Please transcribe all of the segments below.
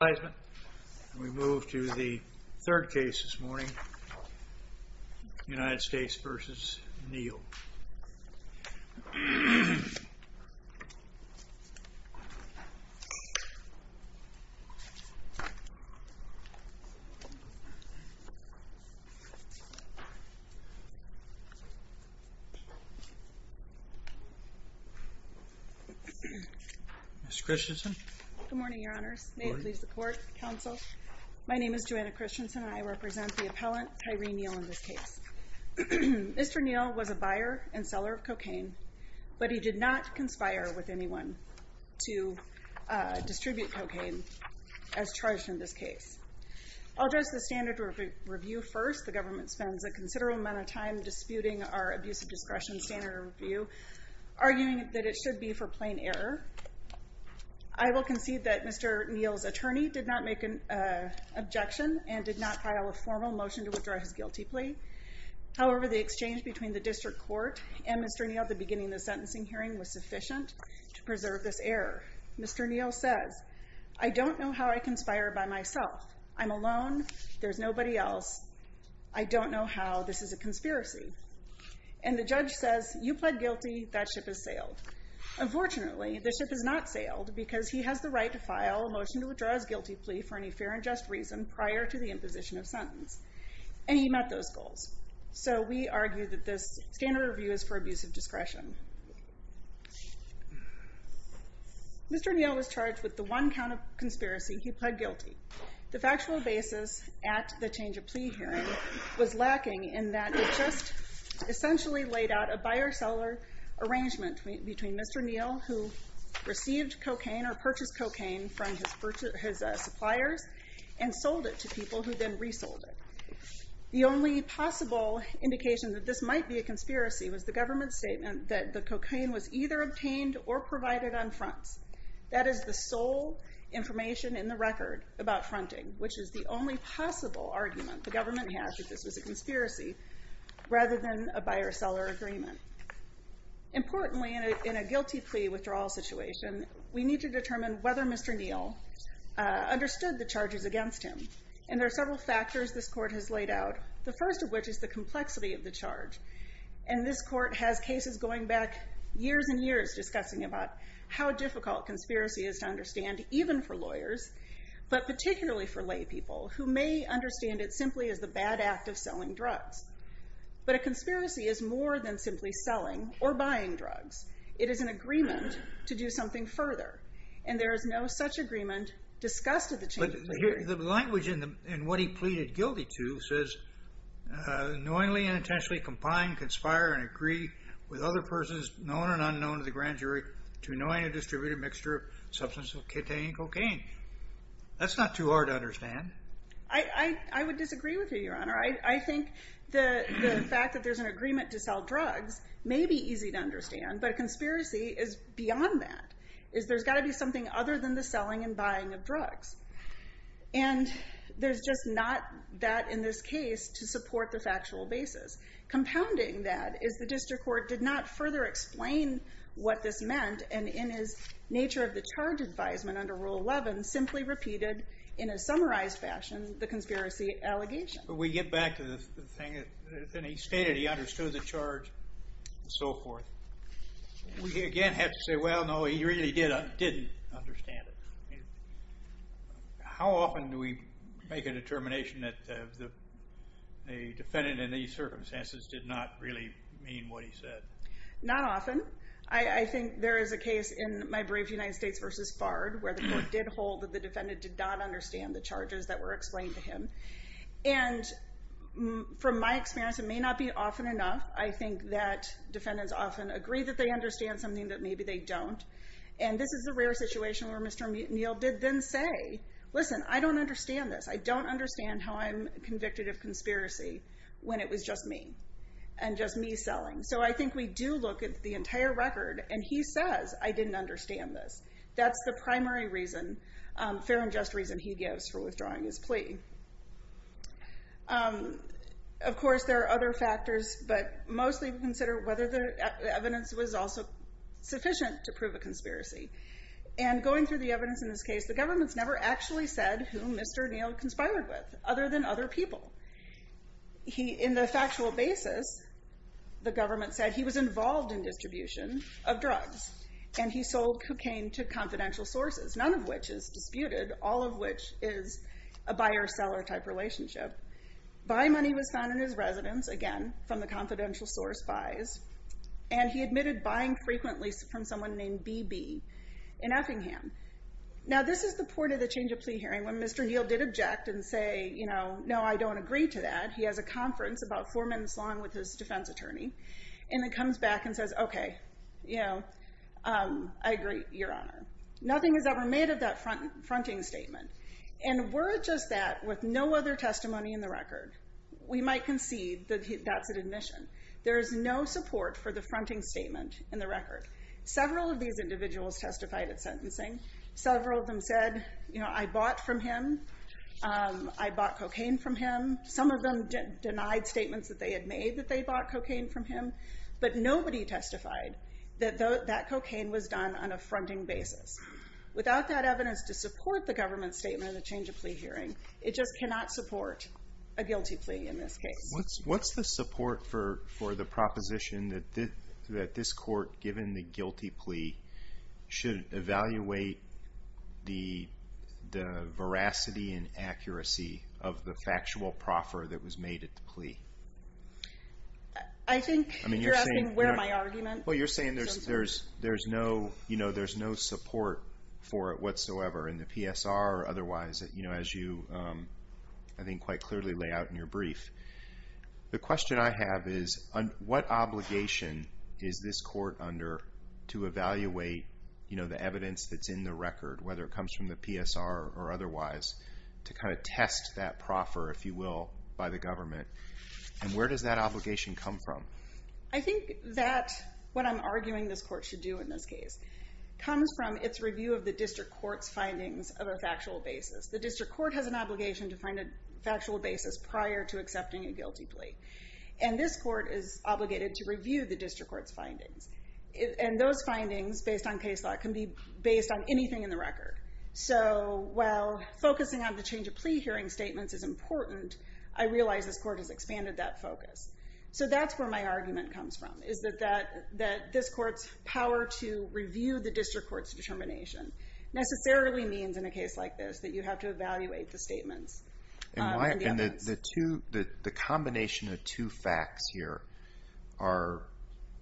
And we move to the third case this morning, United States v. Neal. Ms. Christensen. Good morning, Your Honors. Good morning. May it please the Court, Counsel. My name is Joanna Christensen and I represent the appellant Tyree Neal in this case. Mr. Neal was a buyer and seller of cocaine, but he did not conspire with anyone to distribute cocaine as charged in this case. I'll address the standard review first. The government spends a considerable amount of time disputing our abuse of discretion standard review, arguing that it should be for plain error. I will concede that Mr. Neal's attorney did not make an objection and did not file a formal motion to withdraw his guilty plea. However, the exchange between the district court and Mr. Neal at the beginning of the sentencing hearing was sufficient to preserve this error. Mr. Neal says, I don't know how I conspired by myself. I'm alone. There's nobody else. I don't know how. This is a conspiracy. And the judge says, you pled guilty. That ship has sailed. Unfortunately, the ship has not sailed because he has the right to file a motion to withdraw his guilty plea for any fair and just reason prior to the imposition of sentence. And he met those goals. So we argue that this standard review is for abuse of discretion. Mr. Neal was charged with the one count of conspiracy. He pled guilty. The factual basis at the change of plea hearing was lacking in that it just essentially laid out a buyer-seller arrangement between Mr. Neal, who received cocaine or purchased cocaine from his suppliers, and sold it to people who then resold it. The only possible indication that this might be a conspiracy was the government's statement that the cocaine was either obtained or provided on fronts. That is the sole information in the record about fronting, which is the only possible argument the government has that this was a conspiracy rather than a buyer-seller agreement. Importantly, in a guilty plea withdrawal situation, we need to determine whether Mr. Neal understood the charges against him. And there are several factors this court has laid out, the first of which is the complexity of the charge. And this court has cases going back years and years discussing about how difficult conspiracy is to understand, even for lawyers, but particularly for laypeople, who may understand it simply as the bad act of selling drugs. But a conspiracy is more than simply selling or buying drugs. It is an agreement to do something further. And there is no such agreement discussed at the change of plea hearing. The language in what he pleaded guilty to says, knowingly and intentionally combine, conspire, and agree with other persons, known and unknown to the grand jury, to anoint a distributed mixture of substances of cocaine. That's not too hard to understand. I would disagree with you, Your Honor. I think the fact that there's an agreement to sell drugs may be easy to understand, but a conspiracy is beyond that. There's got to be something other than the selling and buying of drugs. And there's just not that in this case to support the factual basis. Compounding that is the district court did not further explain what this meant. And in his nature of the charge advisement under Rule 11, simply repeated in a summarized fashion the conspiracy allegation. We get back to the thing that he stated. He understood the charge and so forth. We again have to say, well, no, he really didn't understand it. How often do we make a determination that the defendant in these circumstances did not really mean what he said? Not often. I think there is a case in My Brave United States v. Bard where the court did hold that the defendant did not understand the charges that were explained to him. And from my experience, it may not be often enough. I think that defendants often agree that they understand something that maybe they don't. And this is a rare situation where Mr. Neal did then say, listen, I don't understand this. I don't understand how I'm convicted of conspiracy when it was just me and just me selling. So I think we do look at the entire record, and he says, I didn't understand this. That's the primary reason, fair and just reason he gives for withdrawing his plea. Of course, there are other factors, but mostly we consider whether the evidence was also sufficient to prove a conspiracy. And going through the evidence in this case, the government's never actually said who Mr. Neal conspired with, other than other people. In the factual basis, the government said he was involved in distribution of drugs. And he sold cocaine to confidential sources, none of which is disputed, all of which is a buyer-seller type relationship. Buy money was found in his residence, again, from the confidential source buys. And he admitted buying frequently from someone named BB in Effingham. Now, this is the point of the change of plea hearing, when Mr. Neal did object and say, no, I don't agree to that. He has a conference about four minutes long with his defense attorney. And then comes back and says, OK, I agree, Your Honor. Nothing is ever made of that fronting statement. And were it just that, with no other testimony in the record, we might concede that that's an admission. There is no support for the fronting statement in the record. Several of these individuals testified at sentencing. Several of them said, I bought from him. I bought cocaine from him. Some of them denied statements that they had made that they bought cocaine from him. But nobody testified that that cocaine was done on a fronting basis. Without that evidence to support the government's statement in the change of plea hearing, it just cannot support a guilty plea in this case. What's the support for the proposition that this court, given the guilty plea, should evaluate the veracity and accuracy of the factual proffer that was made at the plea? I think you're asking where my argument is. Well, you're saying there's no support for it whatsoever in the PSR or otherwise, as you, I think, quite clearly lay out in your brief. The question I have is, what obligation is this court under to evaluate the evidence that's in the record, whether it comes from the PSR or otherwise, to kind of test that proffer, if you will, by the government? And where does that obligation come from? I think that what I'm arguing this court should do in this case comes from its review of the district court's findings of a factual basis. The district court has an obligation to find a factual basis prior to accepting a guilty plea. And this court is obligated to review the district court's findings. And those findings, based on case law, can be based on anything in the record. So while focusing on the change of plea hearing statements is important, I realize this court has expanded that focus. So that's where my argument comes from, is that this court's power to review the district court's determination necessarily means, in a case like this, that you have to evaluate the statements and the evidence. And the combination of two facts here are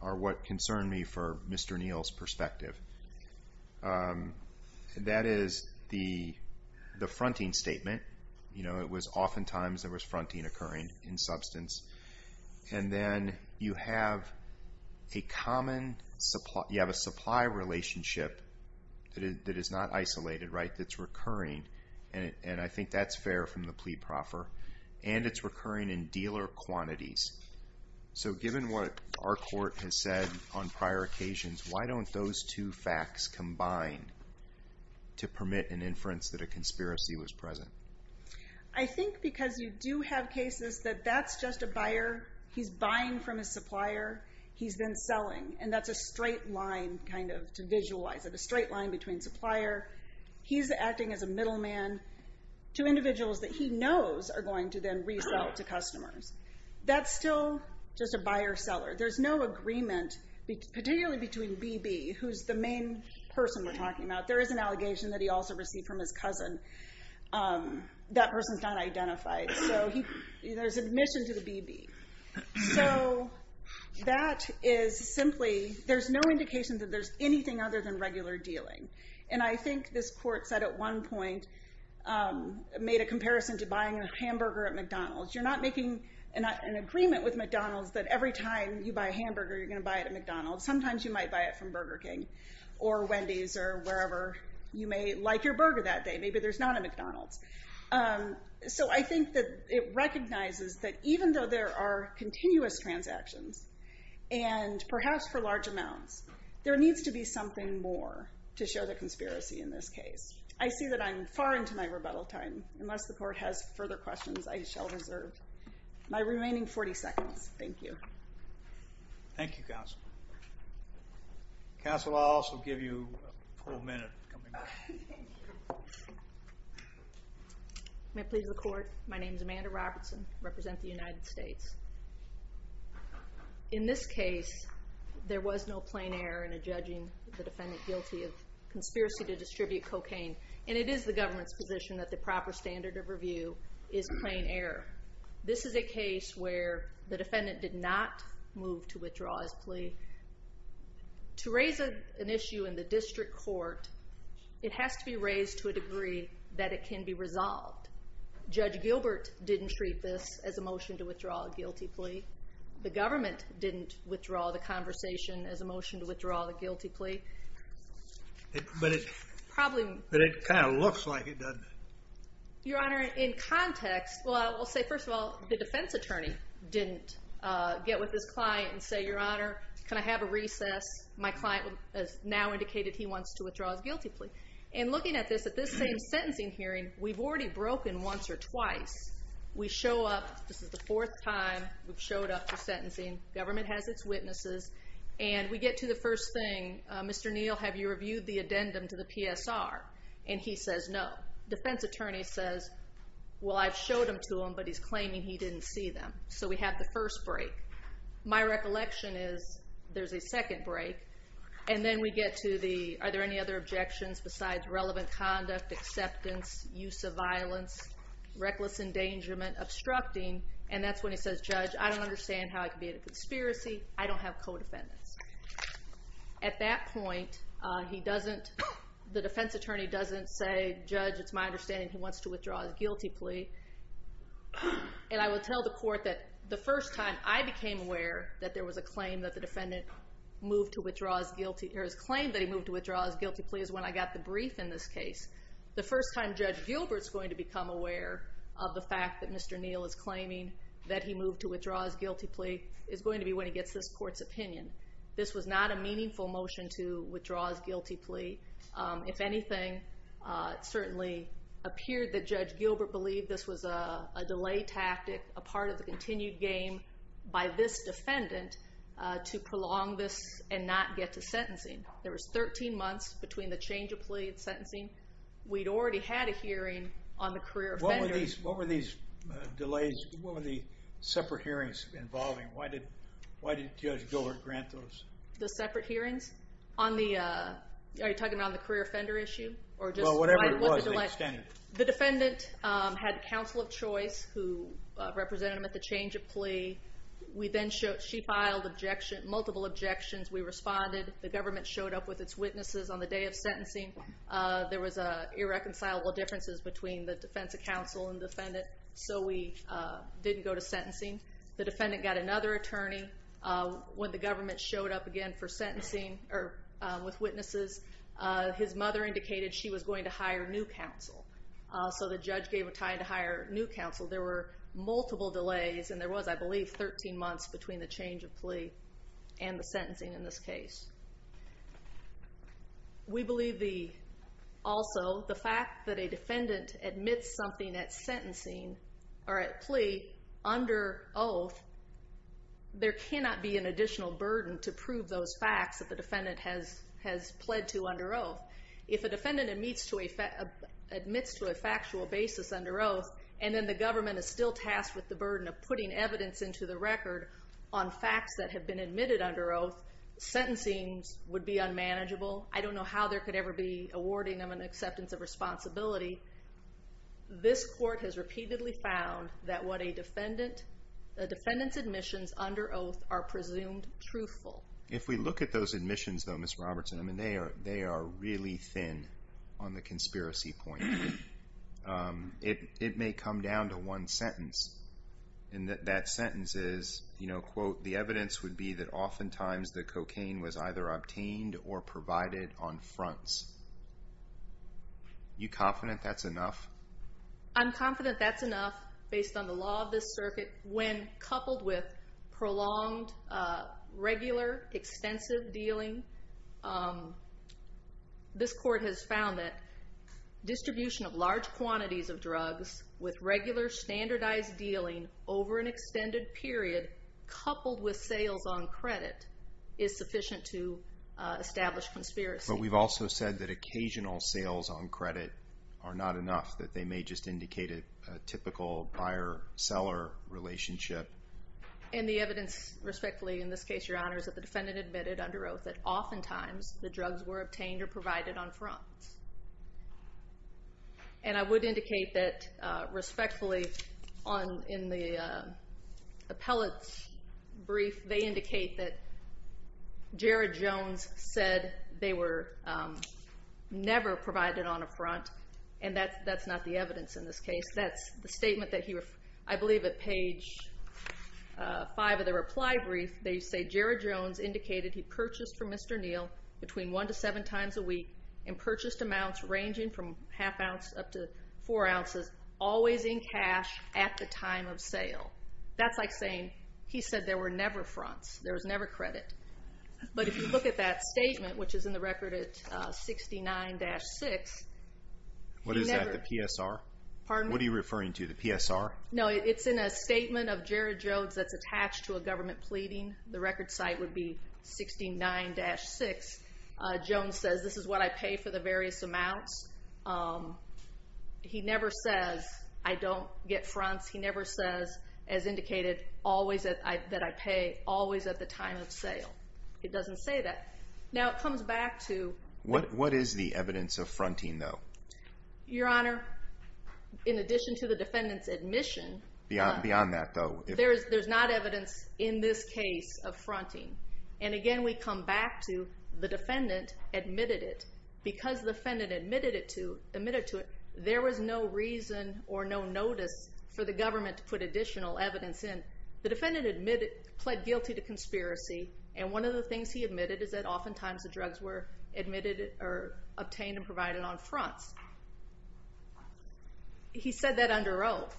what concern me for Mr. Neal's perspective. That is the fronting statement. You know, oftentimes there was fronting occurring in substance. And then you have a supply relationship that is not isolated, right, that's recurring. And I think that's fair from the plea proffer. And it's recurring in dealer quantities. So given what our court has said on prior occasions, why don't those two facts combine to permit an inference that a conspiracy was present? I think because you do have cases that that's just a buyer. He's buying from a supplier. He's been selling. And that's a straight line, kind of, to visualize it, a straight line between supplier. He's acting as a middleman to individuals that he knows are going to then resell to customers. That's still just a buyer-seller. There's no agreement, particularly between BB, who's the main person we're talking about. There is an allegation that he also received from his cousin. That person's not identified. So there's admission to the BB. So that is simply, there's no indication that there's anything other than regular dealing. And I think this court said at one point, made a comparison to buying a hamburger at McDonald's. You're not making an agreement with McDonald's that every time you buy a hamburger, you're going to buy it at McDonald's. Sometimes you might buy it from Burger King or Wendy's or wherever. You may like your burger that day. Maybe there's not a McDonald's. So I think that it recognizes that even though there are continuous transactions, and perhaps for large amounts, there needs to be something more to show the conspiracy in this case. I see that I'm far into my rebuttal time. Unless the court has further questions, I shall reserve my remaining 40 seconds. Thank you. Thank you, Counsel. Counsel, I'll also give you a full minute. May I please record? My name is Amanda Robertson. I represent the United States. In this case, there was no plain error in judging the defendant guilty of conspiracy to distribute cocaine. And it is the government's position that the proper standard of review is plain error. This is a case where the defendant did not move to withdraw his plea. To raise an issue in the district court, it has to be raised to a degree that it can be resolved. Judge Gilbert didn't treat this as a motion to withdraw a guilty plea. The government didn't withdraw the conversation as a motion to withdraw the guilty plea. But it kind of looks like it, doesn't it? Your Honor, in context, well, I will say, first of all, the defense attorney didn't get with his client and say, Your Honor, can I have a recess? My client has now indicated he wants to withdraw his guilty plea. And looking at this, at this same sentencing hearing, we've already broken once or twice. We show up. This is the fourth time we've showed up for sentencing. Government has its witnesses. And we get to the first thing. Mr. Neal, have you reviewed the addendum to the PSR? And he says no. Defense attorney says, well, I've showed them to him, but he's claiming he didn't see them. So we have the first break. My recollection is there's a second break. And then we get to the, are there any other objections besides relevant conduct, acceptance, use of violence, reckless endangerment, obstructing. And that's when he says, Judge, I don't understand how it could be a conspiracy. I don't have co-defendants. At that point, he doesn't, the defense attorney doesn't say, Judge, it's my understanding he wants to withdraw his guilty plea. And I will tell the court that the first time I became aware that there was a claim that the defendant moved to withdraw his guilty, or his claim that he moved to withdraw his guilty plea is when I got the brief in this case. The first time Judge Gilbert's going to become aware of the fact that Mr. Neal is claiming that he moved to withdraw his guilty plea is going to be when he gets this court's opinion. This was not a meaningful motion to withdraw his guilty plea. If anything, it certainly appeared that Judge Gilbert believed this was a delay tactic, a part of the continued game by this defendant to prolong this and not get to sentencing. There was 13 months between the change of plea and sentencing. We'd already had a hearing on the career offenders. What were these delays, what were the separate hearings involving? Why did Judge Gilbert grant those? The separate hearings? Are you talking about the career offender issue? Well, whatever it was, they extended it. The defendant had counsel of choice who represented him at the change of plea. She filed multiple objections. We responded. The government showed up with its witnesses on the day of sentencing. There was irreconcilable differences between the defense counsel and defendant, so we didn't go to sentencing. The defendant got another attorney. When the government showed up again for sentencing with witnesses, his mother indicated she was going to hire new counsel, so the judge gave a tie to hire new counsel. There were multiple delays, and there was, I believe, 13 months between the change of plea and the sentencing in this case. We believe also the fact that a defendant admits something at sentencing or at plea under oath, there cannot be an additional burden to prove those facts that the defendant has pled to under oath. If a defendant admits to a factual basis under oath, and then the government is still tasked with the burden of putting evidence into the record on facts that have been admitted under oath, sentencing would be unmanageable. I don't know how there could ever be awarding of an acceptance of responsibility. This court has repeatedly found that what a defendant's admissions under oath are presumed truthful. If we look at those admissions, though, Ms. Robertson, I mean, they are really thin on the conspiracy point. It may come down to one sentence, and that sentence is, you know, quote, the evidence would be that oftentimes the cocaine was either obtained or provided on fronts. Are you confident that's enough? I'm confident that's enough based on the law of this circuit. When coupled with prolonged, regular, extensive dealing, this court has found that distribution of large quantities of drugs with regular standardized dealing over an extended period coupled with sales on credit is sufficient to establish conspiracy. But we've also said that occasional sales on credit are not enough, that they may just indicate a typical buyer-seller relationship. And the evidence, respectfully, in this case, Your Honors, that the defendant admitted under oath that oftentimes the drugs were obtained or provided on fronts. And I would indicate that, respectfully, in the appellate's brief, they indicate that Jared Jones said they were never provided on a front, and that's not the evidence in this case. That's the statement that he, I believe, at page 5 of the reply brief, they say Jared Jones indicated he purchased from Mr. Neal between one to seven times a week and purchased amounts ranging from half ounce up to four ounces always in cash at the time of sale. That's like saying he said there were never fronts, there was never credit. But if you look at that statement, which is in the record at 69-6, What is that, the PSR? Pardon me? What are you referring to, the PSR? No, it's in a statement of Jared Jones that's attached to a government pleading. The record site would be 69-6. Jones says this is what I pay for the various amounts. He never says I don't get fronts. He never says, as indicated, that I pay always at the time of sale. It doesn't say that. Now, it comes back to What is the evidence of fronting, though? Your Honor, in addition to the defendant's admission Beyond that, though. There's not evidence in this case of fronting. And again, we come back to the defendant admitted it. Because the defendant admitted to it, there was no reason or no notice for the government to put additional evidence in. The defendant pled guilty to conspiracy. And one of the things he admitted is that oftentimes the drugs were obtained and provided on fronts. He said that under oath.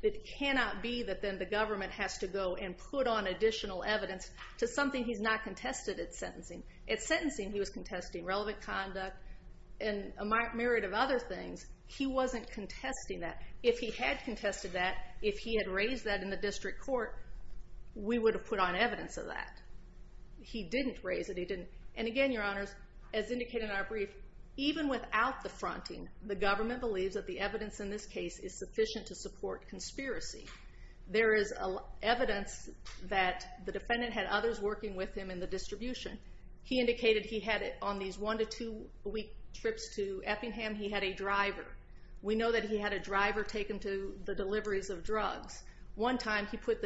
It cannot be that then the government has to go and put on additional evidence to something he's not contested at sentencing. At sentencing, he was contesting relevant conduct and a myriad of other things. He wasn't contesting that. If he had contested that, if he had raised that in the district court, we would have put on evidence of that. He didn't raise it. He didn't. And again, Your Honor, as indicated in our brief, even without the fronting, the government believes that the evidence in this case is sufficient to support conspiracy. There is evidence that the defendant had others working with him in the distribution. He indicated he had on these one to two week trips to Effingham, he had a driver. We know that he had a driver taken to the deliveries of drugs. One time, he put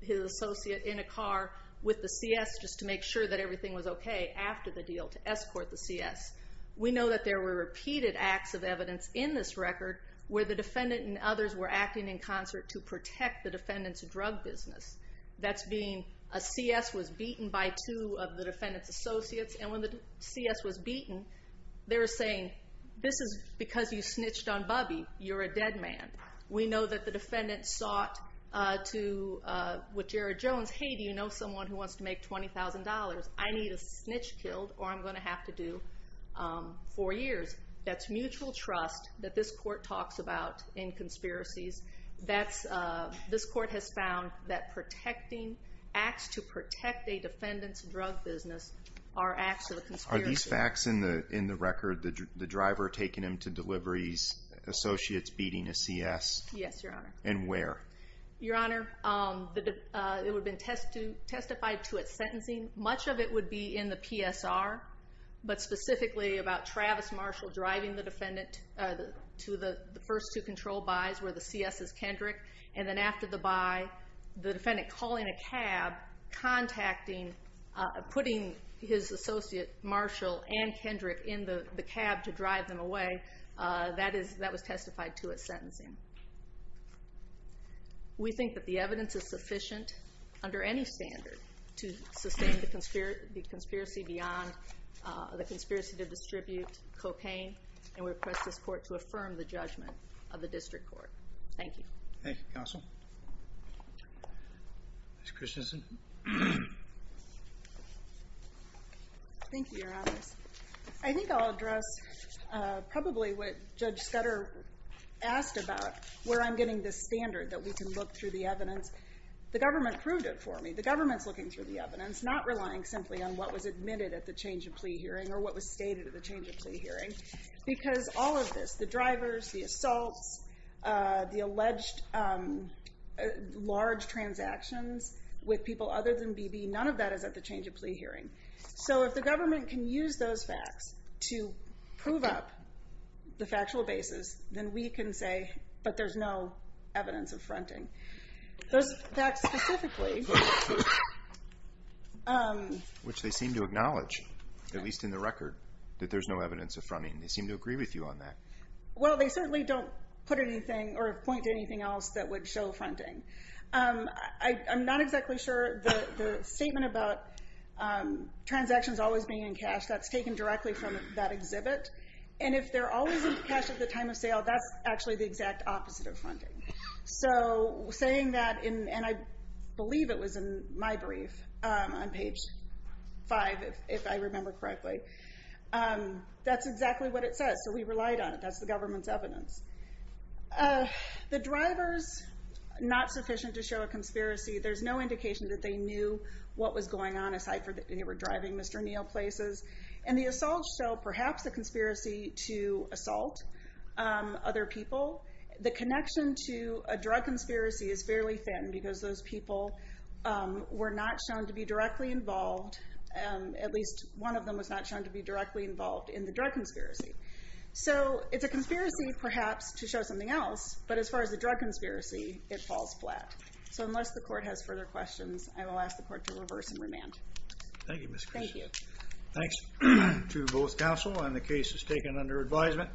his associate in a car with the CS just to make sure that everything was okay after the deal to escort the CS. We know that there were repeated acts of evidence in this record where the defendant and others were acting in concert to protect the defendant's drug business. That's being a CS was beaten by two of the defendant's associates, and when the CS was beaten, they were saying, this is because you snitched on Bubby. You're a dead man. We know that the defendant sought to, with Jared Jones, hey, do you know someone who wants to make $20,000? I need a snitch killed or I'm going to have to do four years. That's mutual trust that this court talks about in conspiracies. This court has found that protecting acts to protect a defendant's drug business are acts of a conspiracy. Are these facts in the record, the driver taking him to deliveries, associates beating a CS? Yes, Your Honor. And where? Much of it would be in the PSR, but specifically about Travis Marshall driving the defendant to the first two control buys where the CS is Kendrick, and then after the buy the defendant calling a cab, putting his associate Marshall and Kendrick in the cab to drive them away. That was testified to as sentencing. We think that the evidence is sufficient under any standard to sustain the conspiracy beyond the conspiracy to distribute cocaine, and we request this court to affirm the judgment of the district court. Thank you. Thank you, Counsel. Ms. Christensen. Thank you, Your Honors. I think I'll address probably what Judge Scudder asked about where I'm getting this standard that we can look through the evidence. The government proved it for me. The government's looking through the evidence, not relying simply on what was admitted at the change of plea hearing or what was stated at the change of plea hearing, because all of this, the drivers, the assaults, the alleged large transactions with people other than BB, none of that is at the change of plea hearing. So if the government can use those facts to prove up the factual basis, then we can say, but there's no evidence of fronting. Those facts specifically. Which they seem to acknowledge, at least in the record, that there's no evidence of fronting. They seem to agree with you on that. Well, they certainly don't put anything or point to anything else that would show fronting. I'm not exactly sure. The statement about transactions always being in cash, that's taken directly from that exhibit. And if they're always in cash at the time of sale, that's actually the exact opposite of fronting. So saying that, and I believe it was in my brief on page five, if I remember correctly, that's exactly what it says. So we relied on it. That's the government's evidence. The driver's not sufficient to show a conspiracy. There's no indication that they knew what was going on, aside from that they were driving Mr. Neal places. And the assaults show perhaps a conspiracy to assault other people. The connection to a drug conspiracy is fairly thin, because those people were not shown to be directly involved. At least one of them was not shown to be directly involved in the drug conspiracy. So it's a conspiracy perhaps to show something else, but as far as the drug conspiracy, it falls flat. So unless the court has further questions, I will ask the court to reverse and remand. Thank you, Ms. Christian. Thank you. Thanks to both counsel, and the case is taken under advisement.